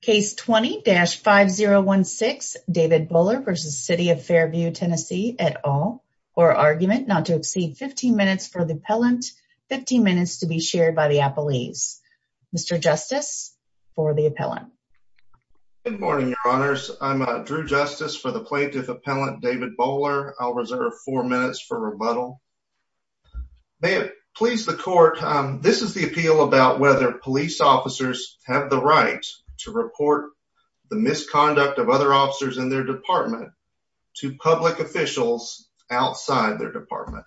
Case 20-5016 David Bohler v. City of Fairview TN et al. For argument not to exceed 15 minutes for the appellant, 15 minutes to be shared by the appellees. Mr. Justice for the appellant. Good morning, your honors. I'm Drew Justice for the plaintiff appellant David Bohler. I'll reserve four minutes for rebuttal. May it please the court, this is the appeal about whether police officers have the right to report the misconduct of other officers in their department to public officials outside their department.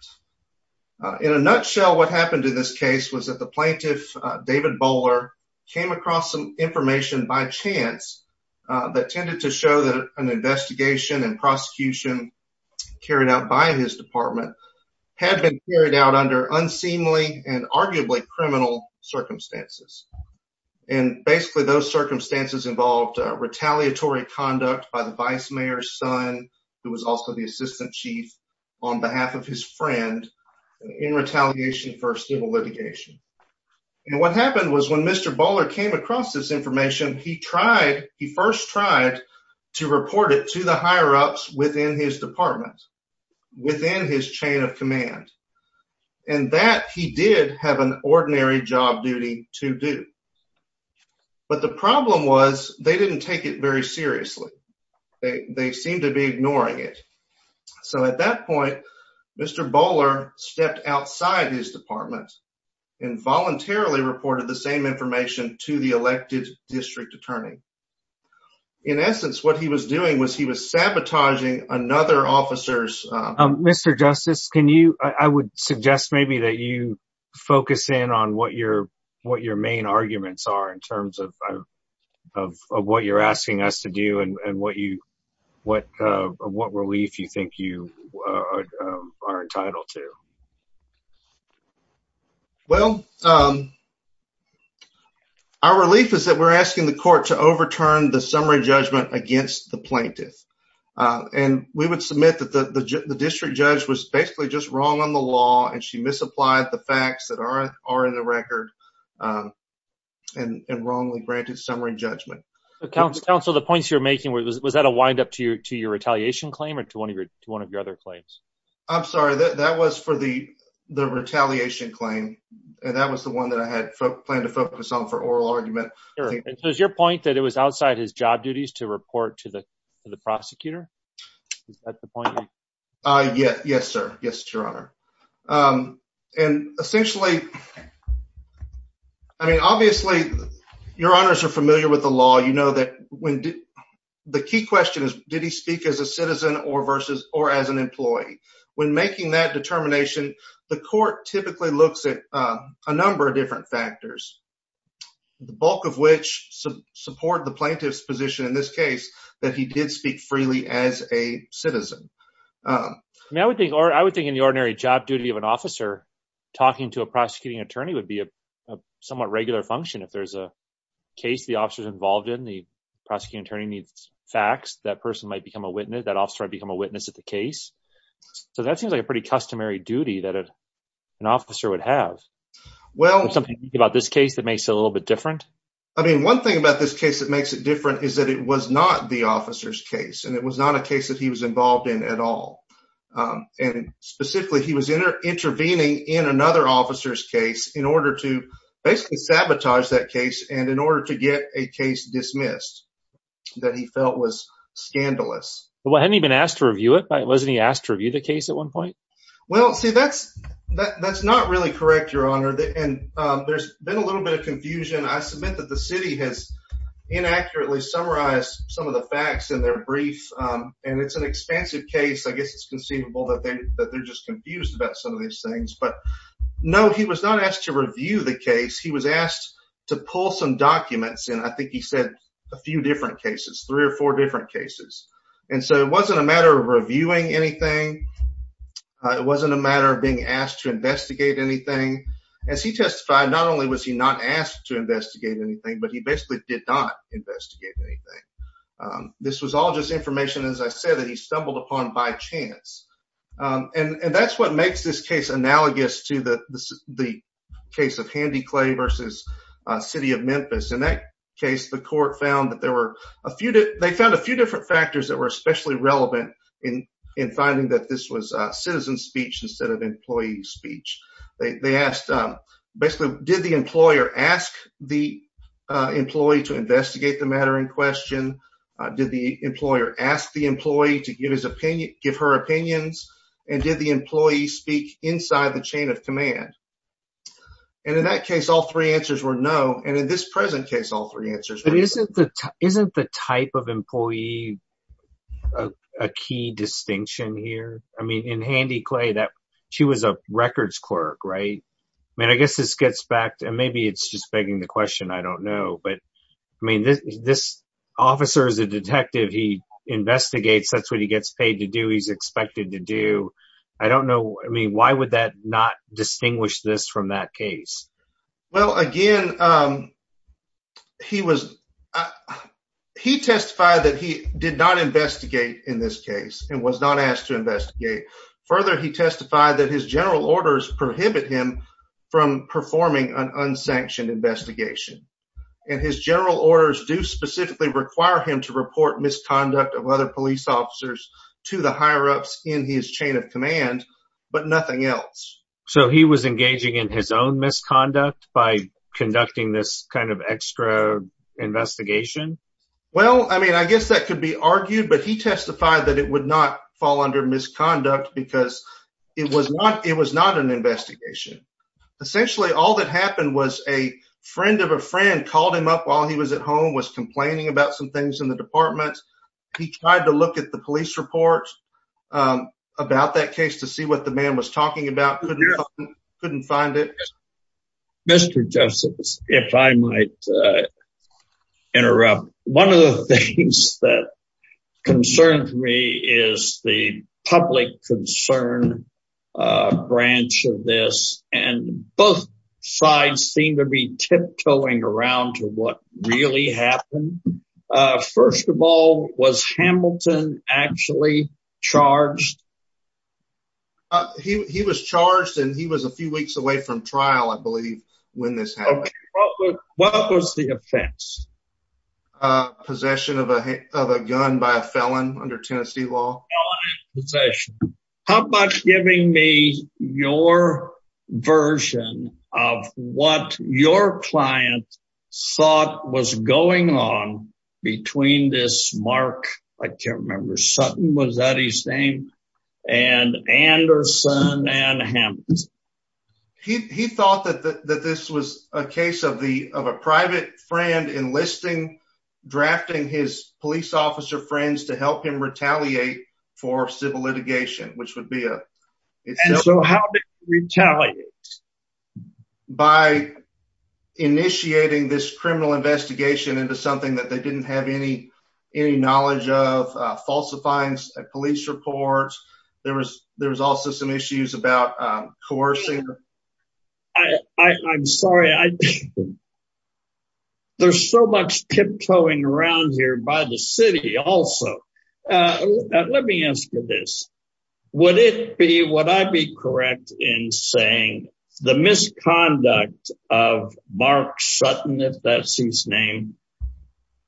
In a nutshell, what happened in this case was that the plaintiff David Bohler came across some information by chance that tended to show that an investigation and prosecution carried out by his department had been carried out under unseemly and arguably criminal circumstances. And basically those circumstances involved retaliatory conduct by the vice mayor's son who was also the assistant chief on behalf of his friend in retaliation for civil litigation. And what happened was when Mr. Bohler came across this information, he tried, he first tried to report it to the higher-ups within his department, within his chain of command, and that he did have an ordinary job duty to do. But the problem was they didn't take it very seriously. They seemed to be ignoring it. So at that point, Mr. Bohler stepped outside his department and voluntarily reported the same information to the elected district attorney. In essence, what he was doing was he was sabotaging another officer's... Mr. Justice, can you, I would suggest maybe that you focus in on what your main arguments are in terms of what you're asking us to do and what you, what relief you think you are entitled to. Well, our relief is that we're asking the court to overturn the summary judgment against the plaintiff. And we would submit that the district judge was basically just wrong on the law and she misapplied the facts that are in the record and wrongly granted summary judgment. Counsel, the points you're making, was that a windup to your retaliation claim or to one of your other claims? I'm sorry, that was for the retaliation claim. And that was the one that I had planned to focus on for oral argument. And so is your point that it was outside his job duties to report to the prosecutor? Is that the point? Yes, sir. Yes, your honor. And essentially, I mean, obviously your honors are familiar with the law. You know that the key question is, did he speak as a citizen or as an employee? When making that determination, the court typically looks at a number of different factors, the bulk of which support the plaintiff's position in this case, that he did speak freely as a citizen. I mean, I would think in the ordinary job duty of an officer, talking to a prosecuting attorney would be a somewhat regular function. If there's a case the officer's involved in, the prosecuting attorney needs facts, that person might become a witness, that officer might become a witness at the case. So that seems like a pretty customary duty that an officer would have. Well, something about this case that makes it a little bit different? I mean, one thing about this case that makes it different is that it was not the officer's case and it was not a case that he was involved in at all. And specifically, he was intervening in another officer's case in order to basically sabotage that case and in order to get a case dismissed that he felt was scandalous. Well, hadn't he been asked to review it? Wasn't he asked to That's not really correct, your honor. And there's been a little bit of confusion. I submit that the city has inaccurately summarized some of the facts in their brief. And it's an expansive case. I guess it's conceivable that they're just confused about some of these things. But no, he was not asked to review the case. He was asked to pull some documents. And I think he said a few different cases, three or four different cases. And so it wasn't a matter of reviewing anything. It wasn't a matter of being asked to investigate anything. As he testified, not only was he not asked to investigate anything, but he basically did not investigate anything. This was all just information, as I said, that he stumbled upon by chance. And that's what makes this case analogous to the case of Handy Clay versus City of Memphis. In that case, the court found that were especially relevant in finding that this was citizen speech instead of employee speech. They asked, basically, did the employer ask the employee to investigate the matter in question? Did the employer ask the employee to give his opinion, give her opinions? And did the employee speak inside the chain of command? And in that case, all three answers were no. And in this present case, all three answers were no. But isn't the type of employee a key distinction here? I mean, in Handy Clay, she was a records clerk, right? I mean, I guess this gets back to, and maybe it's just begging the question, I don't know. But I mean, this officer is a detective. He investigates. That's what he gets paid to do. He's expected to do. I don't know. I mean, why would that not distinguish this from that case? Well, again, he testified that he did not investigate in this case and was not asked to investigate. Further, he testified that his general orders prohibit him from performing an unsanctioned investigation. And his general orders do specifically require him to report misconduct of other police officers to the higher-ups in his chain of command, but nothing else. So he was engaging in his own misconduct by conducting this kind of extra investigation? Well, I mean, I guess that could be argued, but he testified that it would not fall under misconduct because it was not an investigation. Essentially, all that happened was a friend of a friend called him up while he was at home, was complaining about some things in the apartment. He tried to look at the police report about that case to see what the man was talking about. Couldn't find it. Mr. Justice, if I might interrupt, one of the things that concerns me is the public concern branch of this. And both sides seem to be tiptoeing around to what really happened. First of all, was Hamilton actually charged? He was charged and he was a few weeks away from trial, I believe, when this happened. What was the offense? Possession of a gun by a felon under Tennessee law. How about giving me your version of what your client thought was going on between this Mark, I can't remember, Sutton, was that his name? And Anderson and Hamilton. He thought that this was a case of a private friend enlisting, drafting his police officer friends to help him retaliate for civil litigation, which would be a... So how did he retaliate? By initiating this criminal investigation into something that they didn't have any, any knowledge of falsifying police reports. There was there was also some issues about coercing. I'm sorry. There's so much tiptoeing around here by the city also. Let me ask you this. Would it be, would I be correct in saying the misconduct of Mark Sutton, if that's his name,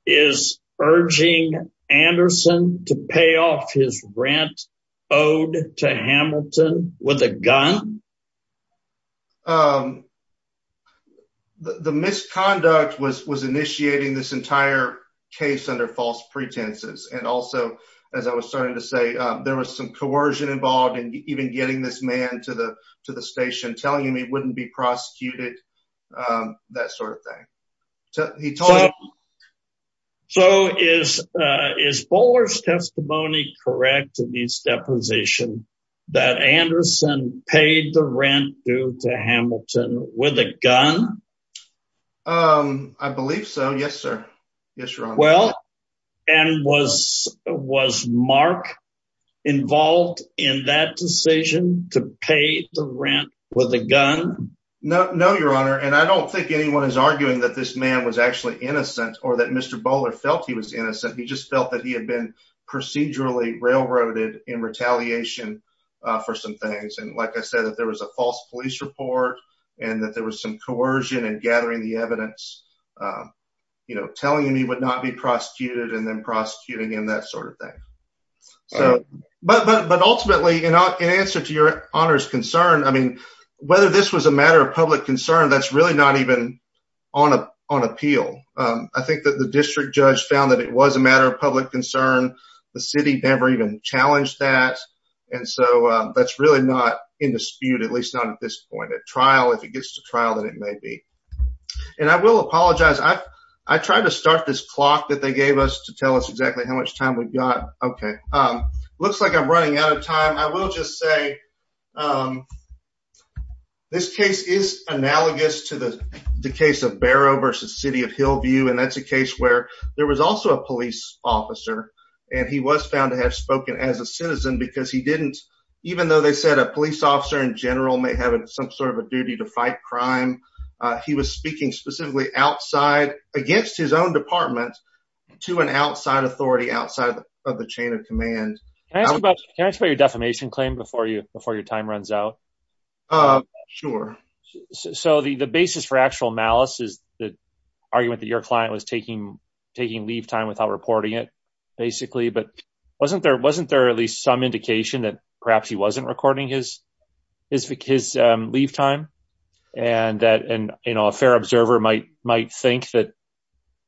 is urging Anderson to pay off his rent owed to Hamilton with a gun? The misconduct was was initiating this entire case under false pretenses. And also, as I was starting to say, there was some coercion involved in even getting this man to the to the station telling him he wouldn't be prosecuted, that sort of thing. He told... So is, is Bowler's testimony correct in his deposition that Anderson paid the rent due to Hamilton with a gun? I believe so. Yes, sir. Yes, your honor. Well, and was was Mark involved in that decision to pay the rent with a gun? No, no, your honor. And I don't think anyone is arguing that this man was actually innocent, or that Mr. Bowler felt he was innocent. He just felt that he had been procedurally railroaded in retaliation for some things. And like I said, that there was a false police report, and that there was some coercion and gathering the evidence, you know, telling him he would not be prosecuted and then prosecuting him that sort of thing. So, but ultimately, you know, in answer to your honor's concern, I mean, whether this was a matter of public concern, that's really not even on a on appeal. I think that the district judge found that it was a matter of public concern. The city never even challenged that. And so that's really not in dispute, at least not at this point at trial, if it gets to trial that it may be. And I will apologize, I, I tried to start this clock that they gave us to looks like I'm running out of time. I will just say this case is analogous to the case of Barrow versus city of Hillview. And that's a case where there was also a police officer. And he was found to have spoken as a citizen because he didn't, even though they said a police officer in general may have some sort of a duty to fight crime. He was speaking specifically outside against his own department, to an outside authority outside of the chain of command. Can I ask about your defamation claim before you before your time runs out? Sure. So the basis for actual malice is the argument that your client was taking, taking leave time without reporting it, basically, but wasn't there wasn't there at least some indication that perhaps he wasn't recording his, his, his leave time. And that and, you know, a fair observer might might think that,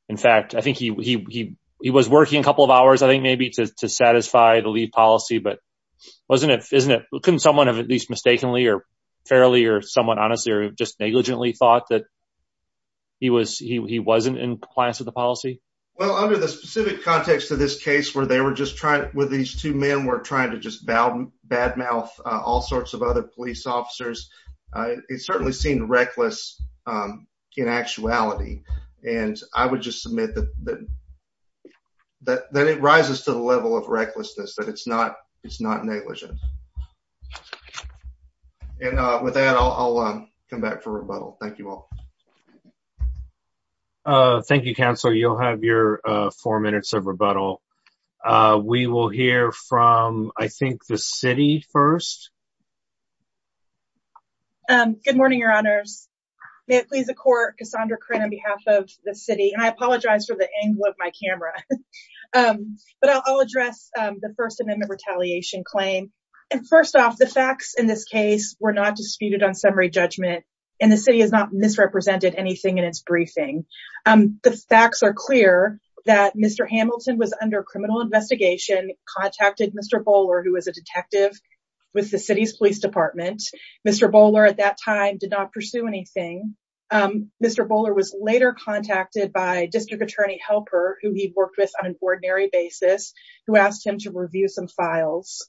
in fact, I think he, he, he was working a couple of hours, I think maybe to satisfy the lead policy, but wasn't it isn't it couldn't someone have at least mistakenly or fairly or someone honestly, or just negligently thought that he was he wasn't in compliance with the policy? Well, under the specific context of this case, where they were just trying with these two men were trying to just bow bad mouth, all sorts of other police officers. It certainly seemed reckless in actuality. And I would just admit that that that it rises to the level of recklessness that it's not it's not negligent. And with that, I'll come back for rebuttal. Thank you all. Thank you, counsel, you'll have your four minutes of rebuttal. We will hear from I think the city first. Good morning, your honors. May it please the court Cassandra Crenn on behalf of the city and I apologize for the angle of my camera. But I'll address the First Amendment retaliation claim. And first off the facts in this case were not disputed on summary judgment. And the city has not misrepresented anything in its briefing. The facts are clear that Mr. Hamilton was under criminal investigation contacted Mr. Bowler, who was a detective with the city of Hamilton. Police Department, Mr. Bowler at that time did not pursue anything. Mr. Bowler was later contacted by district attorney helper who he worked with on an ordinary basis, who asked him to review some files.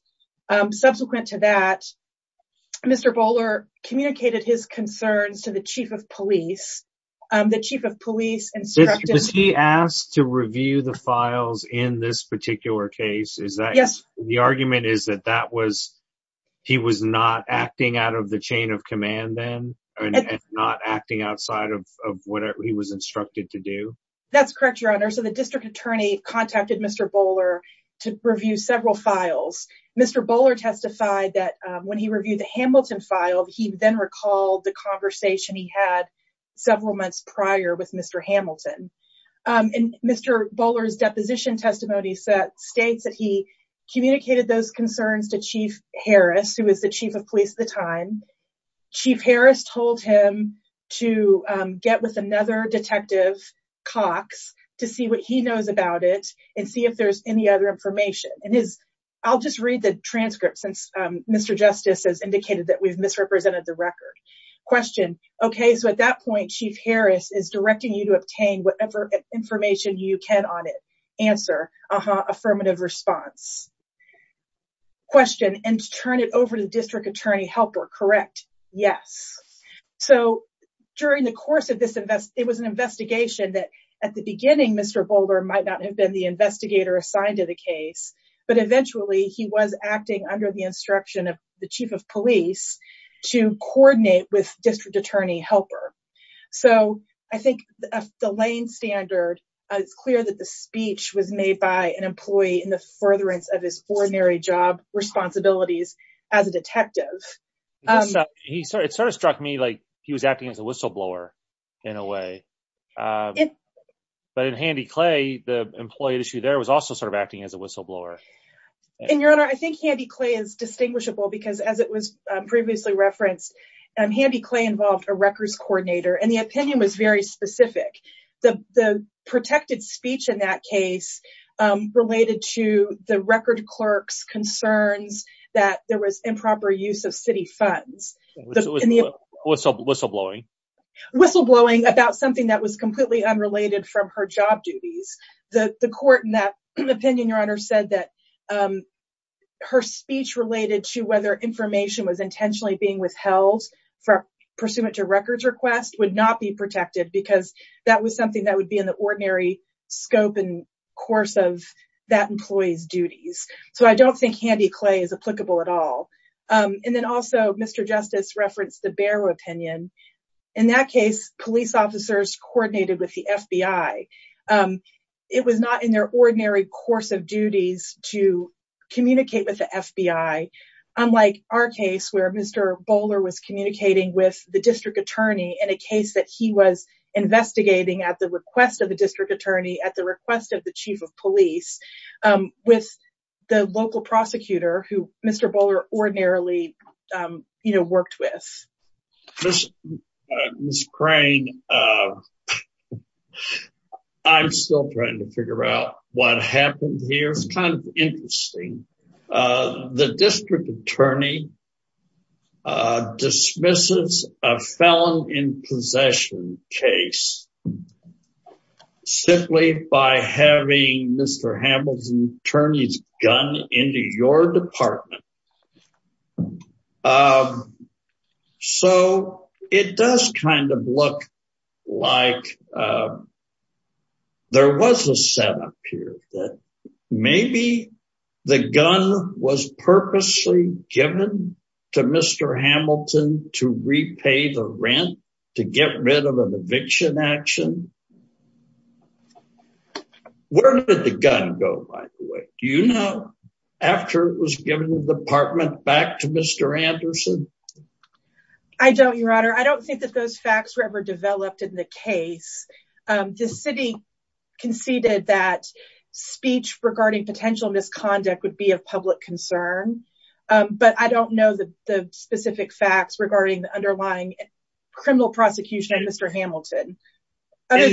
Subsequent to that, Mr. Bowler communicated his concerns to the chief of police, the chief of police and he asked to review the files in this particular case is that yes, the argument is that that was he was not acting out of the chain of command then and not acting outside of what he was instructed to do. That's correct, your honor. So the district attorney contacted Mr. Bowler to review several files. Mr. Bowler testified that when he reviewed the Hamilton file, he then recalled the conversation he had several months prior with Mr. Hamilton. He communicated those concerns to Chief Harris, who was the chief of police at the time. Chief Harris told him to get with another detective, Cox, to see what he knows about it and see if there's any other information. And his, I'll just read the transcript since Mr. Justice has indicated that we've misrepresented the record. Question, okay, so at that point, Chief Harris is directing you to obtain whatever information you can on it. Answer, affirmative response. Question, and turn it over to the district attorney helper, correct? Yes. So during the course of this invest, it was an investigation that at the beginning, Mr. Bowler might not have been the investigator assigned to the case, but eventually he was acting under the instruction of the chief of police to coordinate with district attorney helper. So I think the lane standard, it's clear that the speech was made by an employee in the furtherance of his ordinary job responsibilities as a detective. It sort of struck me like he was acting as a whistleblower in a way. But in Handy Clay, the employee issue there was also sort of acting as a whistleblower. And your honor, I think Handy Clay is distinguishable because as it was and the opinion was very specific. The protected speech in that case related to the record clerk's concerns that there was improper use of city funds. Whistleblowing. Whistleblowing about something that was completely unrelated from her job duties. The court in that opinion, your honor said that her speech related to whether information was intentionally being withheld for pursuant to records request would not be protected because that was something that would be in the ordinary scope and course of that employee's duties. So I don't think Handy Clay is applicable at all. And then also Mr. Justice referenced the Barrow opinion. In that case, police officers coordinated with the FBI. It was not in their ordinary course of duties to with the district attorney in a case that he was investigating at the request of the district attorney at the request of the chief of police with the local prosecutor who Mr. Bowler ordinarily worked with. Ms. Crane, I'm still trying to figure out what happened here. It's kind of interesting. The district attorney dismisses a felon in possession case simply by having Mr. Hamilton's attorney's gun into your department. So, it does kind of look like there was a setup here that maybe the gun was purposely given to Mr. Hamilton to repay the rent to get rid of an eviction action. Where did the gun go, by the way? Do you know? After it was given to the department back to Mr. Anderson? I don't, your honor. I don't think that those facts were ever developed in the case. The city conceded that speech regarding potential misconduct would be of public concern. But I don't know the specific facts regarding the underlying criminal prosecution of Mr. Hamilton. In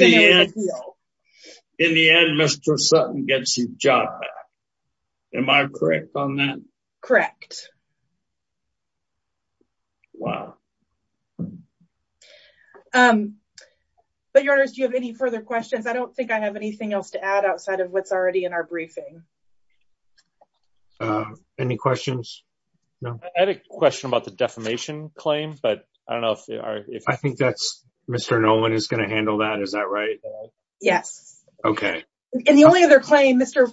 the end, Mr. Sutton gets his job back. Am I correct on that? Correct. But your honors, do you have any further questions? I don't think I have anything else to add outside of what's already in our briefing. Any questions? I had a question about the defamation claim. I think Mr. Nolan is going to handle that. Is that right? Yes. And the only other claim, Mr.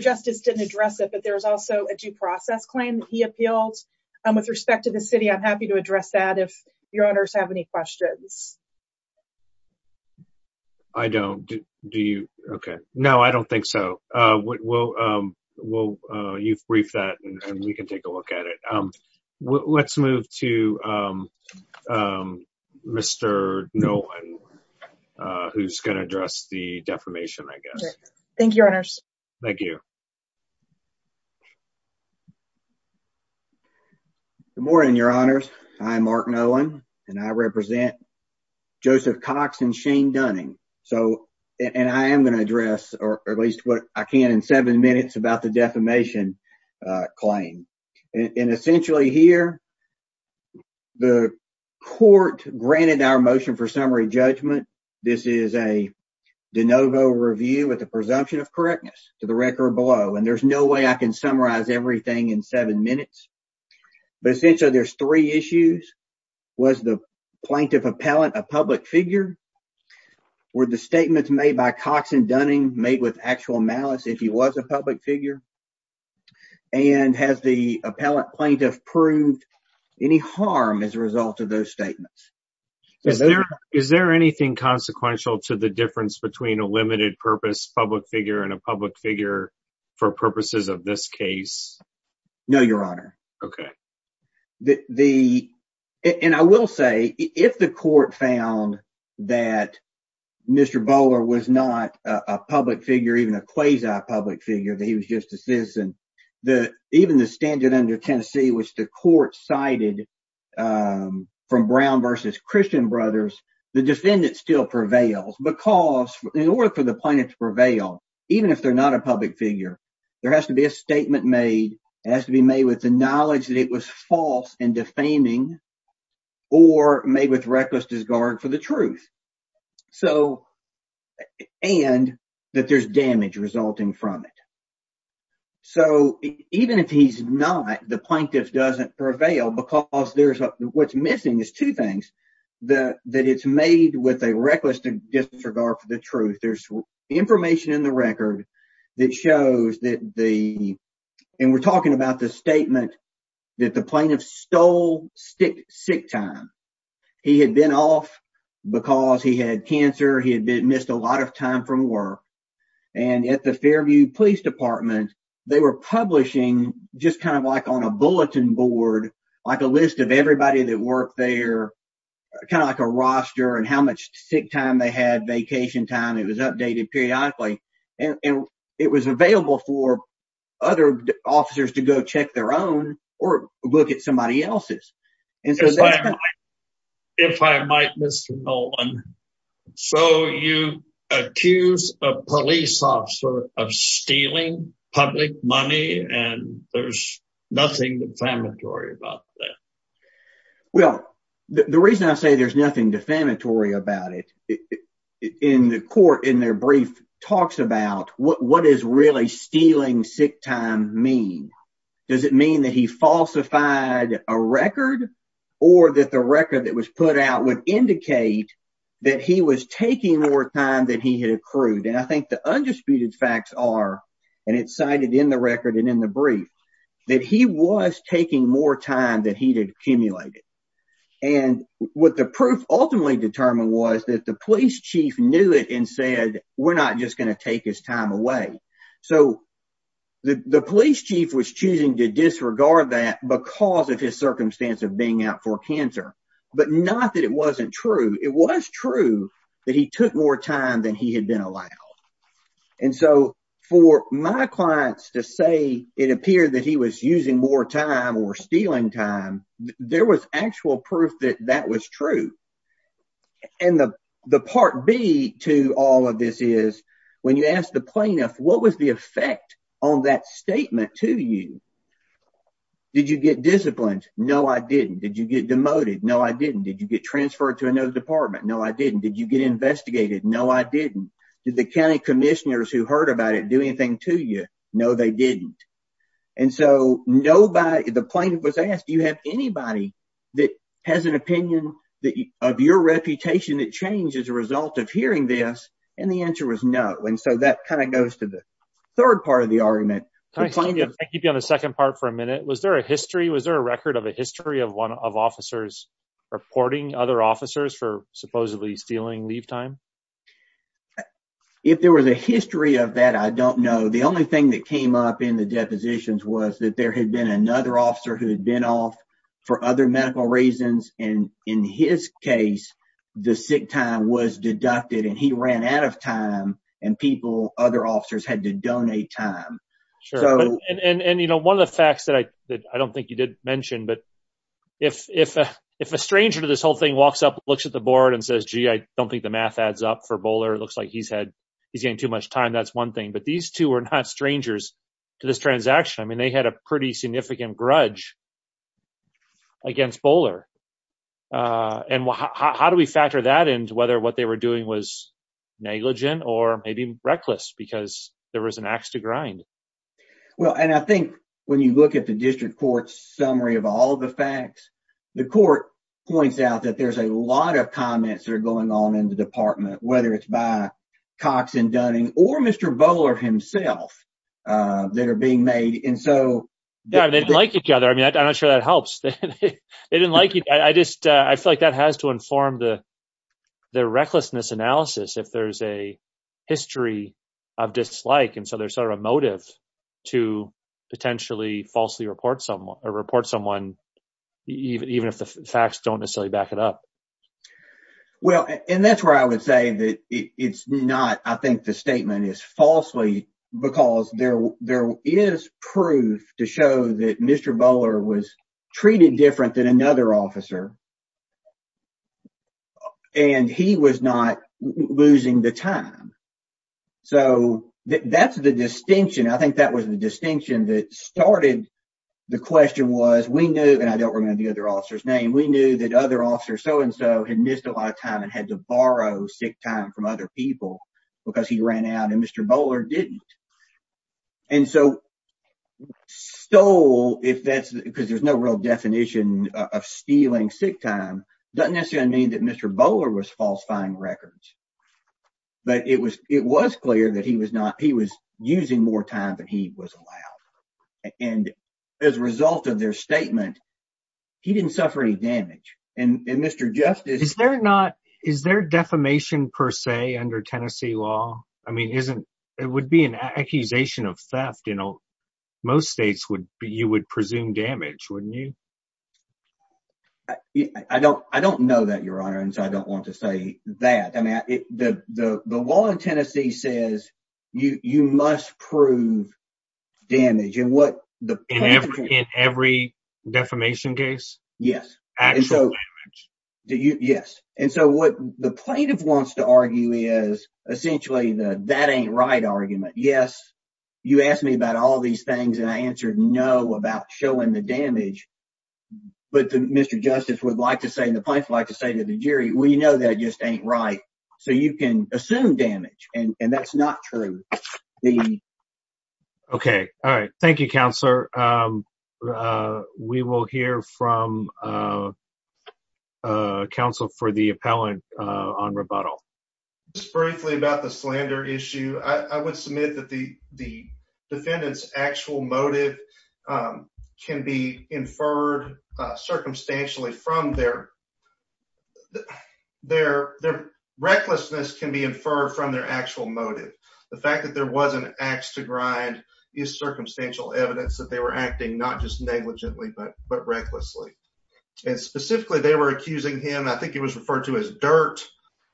Justice didn't address it, but there's also a due process claim he appealed with respect to the city. I'm happy to address that if your honors have any questions. I don't. Do you? Okay. No, I don't think so. We'll, you've briefed that and we can take a look at it. Let's move to Mr. Nolan, who's going to address the defamation, I guess. Thank you, your honors. Thank you. Good morning, your honors. I'm Mark Nolan and I represent Joseph Cox and Shane Dunning. So, and I am going to address or at least what I can in seven minutes about the defamation claim. And essentially here, the court granted our motion for summary judgment. This is a de novo review with the presumption of correctness to the record below. And there's no way I can summarize everything in seven minutes. But essentially there's three issues. Was the plaintiff appellant a public figure? Were the statements made by Cox and Dunning made with actual malice if he was a public figure? And has the appellant plaintiff proved any harm as a result of those statements? Is there anything consequential to the difference between a limited purpose public figure and a public figure for purposes of this case? No, your honor. Okay. And I will say if the court found that Mr. Bowler was not a public figure, even a quasi public figure, that he was just a citizen, even the standard under Tennessee, which the court cited from Brown versus Christian Brothers, the defendant still prevails because in order for the plaintiff to prevail, even if they're not a public figure, there has to be a statement made. It has to be made with the knowledge that it was false and defaming or made with reckless disregard for the truth. So, and that there's damage resulting from it. So, even if he's not, the plaintiff doesn't prevail because there's, what's missing is two things. That it's made with a reckless disregard for the truth. There's information in the record that shows that the, and we're talking about the statement that the plaintiff stole sick time. He had been off because he had cancer. He had missed a lot of time from work. And at the Fairview Police Department, they were publishing just kind of like on a bulletin board, like a list of everybody that worked there, kind of like a roster and how much sick time they had, vacation time. It was updated periodically. And it was available for other officers to go check their own or look at somebody else's. If I might, Mr. Nolan, so you accuse a police officer of stealing public money and there's nothing defamatory about that. Well, the reason I say there's nothing defamatory about it, in the court in their brief talks about what does really stealing sick time mean? Does it mean that he falsified a record or that the I think the undisputed facts are, and it's cited in the record and in the brief, that he was taking more time than he had accumulated. And what the proof ultimately determined was that the police chief knew it and said, we're not just going to take his time away. So the police chief was choosing to disregard that because of his circumstance of being out for been allowed. And so for my clients to say it appeared that he was using more time or stealing time, there was actual proof that that was true. And the part B to all of this is, when you ask the plaintiff, what was the effect on that statement to you? Did you get disciplined? No, I didn't. Did you get demoted? No, I didn't. Did you get investigated? No, I didn't. Did the county commissioners who heard about it do anything to you? No, they didn't. And so nobody, the plaintiff was asked, do you have anybody that has an opinion that of your reputation that changed as a result of hearing this? And the answer was no. And so that kind of goes to the third part of the argument. I keep you on the second part for a minute. Was there a history? Was there a record of a history of one of officers reporting other officers for supposedly stealing leave time? If there was a history of that, I don't know. The only thing that came up in the depositions was that there had been another officer who had been off for other medical reasons. And in his case, the sick time was deducted and he ran out of time and people, other officers had to donate time. And one of the facts that I don't think you mentioned, but if a stranger to this whole thing walks up, looks at the board and says, gee, I don't think the math adds up for Bowler. It looks like he's had, he's getting too much time. That's one thing, but these two are not strangers to this transaction. I mean, they had a pretty significant grudge against Bowler. And how do we factor that into whether what they were doing was negligent or maybe reckless because there was an ax to grind? Well, and I think when you look at the district court's summary of all the facts, the court points out that there's a lot of comments that are going on in the department, whether it's by Cox and Dunning or Mr. Bowler himself that are being made. And so they didn't like each other. I mean, I'm not sure that helps. They didn't like it. I just, I feel like that has to inform the, the recklessness analysis if there's a history of dislike. And so there's sort of a motive to potentially falsely report someone or report someone, even, even if the facts don't necessarily back it up. Well, and that's where I would say that it's not, I think the statement is falsely because there, there is proof to show that Mr. Bowler was the other officer and he was not losing the time. So that's the distinction. I think that was the distinction that started the question was we knew, and I don't remember the other officer's name, we knew that other officer so-and-so had missed a lot of time and had to borrow sick time from other people because he ran out and Mr. Bowler didn't. And so stole, if that's because there's no real definition of stealing sick time, doesn't necessarily mean that Mr. Bowler was falsifying records, but it was, it was clear that he was not, he was using more time than he was allowed. And as a result of their statement, he didn't suffer any damage. And Mr. Justice- Is there not, is there defamation per se under Tennessee law? I mean, isn't, it would be an accusation of theft, you know, most states would be, you would presume damage, wouldn't you? I don't, I don't know that your honor. And so I don't want to say that. I mean, the, the, the law in Tennessee says you, you must prove damage and what the- In every defamation case? Yes. Actual damage. Yes. And so what the plaintiff wants to argue is essentially the, that ain't right argument. Yes. You asked me about all these things and I answered no about showing the damage, but Mr. Justice would like to say, and the plaintiff would like to say to the jury, we know that just ain't right. So you can assume damage and that's not true. The- Okay. All right. Thank you, counselor. We will hear from counsel for the appellant on rebuttal. Just briefly about the slander issue. I would submit that the, the defendant's actual motive can be inferred circumstantially from their, their, their recklessness can be inferred from their actual motive. The fact that there was an ax to grind is circumstantial evidence that they were acting not just negligently, but, but recklessly. And specifically they were accusing him, I think it was referred to as dirt.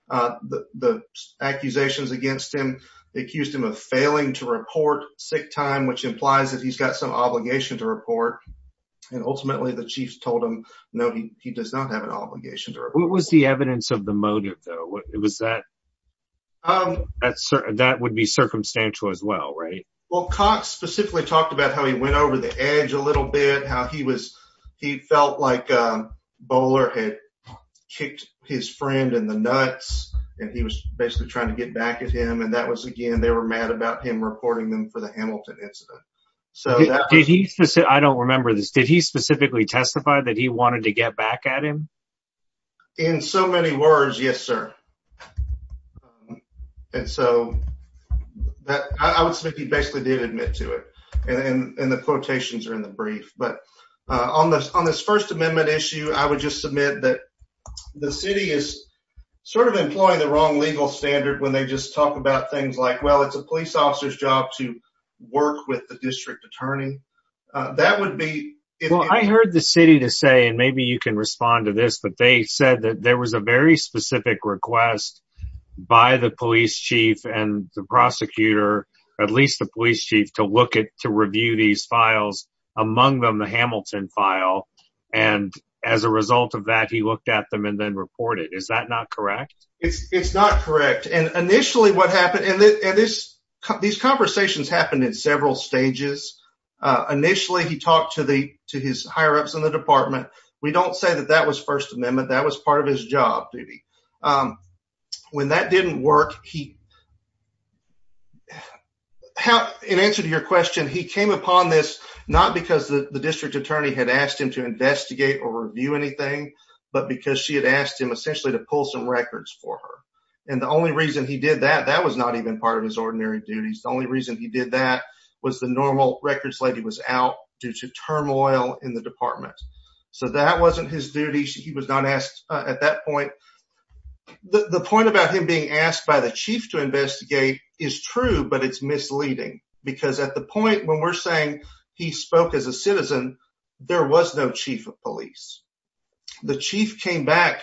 The, the accusations against him, they accused him of failing to report sick time, which implies that he's got some obligation to report. And ultimately the chiefs told him, no, he, he does not have an obligation to report. What was the evidence of the motive though? It was that, that would be circumstantial as well, right? Well, Cox specifically talked about how he went over the edge a little bit, how he was, he felt like a bowler had kicked his friend in the nuts and he was basically trying to get back at him. And that was, again, they were mad about him reporting them for the Hamilton incident. So did he say, I don't remember this. Did he specifically testify that he wanted to get back at him in so many words? Yes, sir. And so that I would submit, he basically did admit to it. And the quotations are in the brief, but on this, on this first amendment issue, I would just submit that the city is sort of employing the wrong legal standard when they just talk about things like, well, it's a police officer's job to work with the district attorney. That would be, well, I heard the city to say, and maybe you can respond to this, but they said that there was a very specific request by the police chief and the prosecutor, at least the police chief to look at, to review these files, among them the Hamilton file. And as a result of that, he looked at them and then reported. Is that not correct? It's not correct. And initially what happened, and this, these conversations happened in several stages. Initially he talked to the, to his higher ups in the department. We don't say that that was part of his job duty. When that didn't work, he, in answer to your question, he came upon this, not because the district attorney had asked him to investigate or review anything, but because she had asked him essentially to pull some records for her. And the only reason he did that, that was not even part of his ordinary duties. The only reason he did that was the normal records lady was out due to turmoil in the department. So that wasn't his duty. He was not asked at that point. The point about him being asked by the chief to investigate is true, but it's misleading because at the point when we're saying he spoke as a citizen, there was no chief of police. The chief came back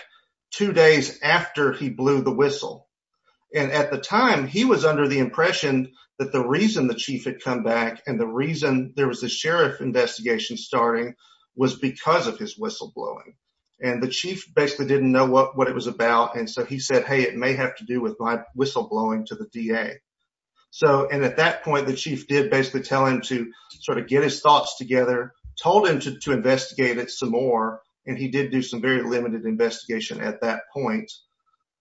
two days after he blew the whistle. And at the time he was under the impression that the reason the chief had come back and the reason there was a sheriff investigation starting was because of his whistleblowing. And the chief basically didn't know what, what it was about. And so he said, Hey, it may have to do with my whistleblowing to the DA. So, and at that point, the chief did basically tell him to sort of get his thoughts together, told him to, to investigate it some more. And he did do some very limited investigation at that point.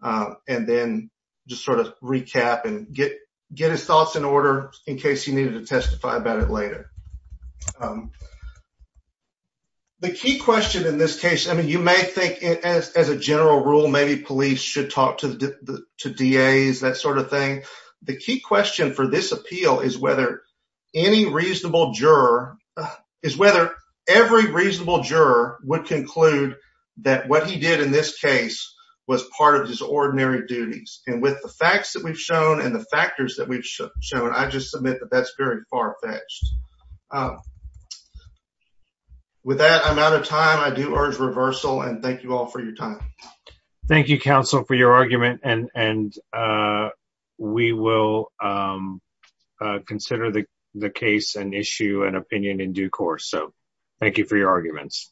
And then just sort of recap and get, get his thoughts in Um, the key question in this case, I mean, you may think as, as a general rule, maybe police should talk to the, to DAs, that sort of thing. The key question for this appeal is whether any reasonable juror is whether every reasonable juror would conclude that what he did in this case was part of his ordinary duties. And with the facts that we've shown and the factors that we've shown, I just submit that that's very far-fetched. With that, I'm out of time. I do urge reversal and thank you all for your time. Thank you, counsel, for your argument. And, and, uh, we will, um, uh, consider the, the case and issue an opinion in due course. So thank you for your arguments.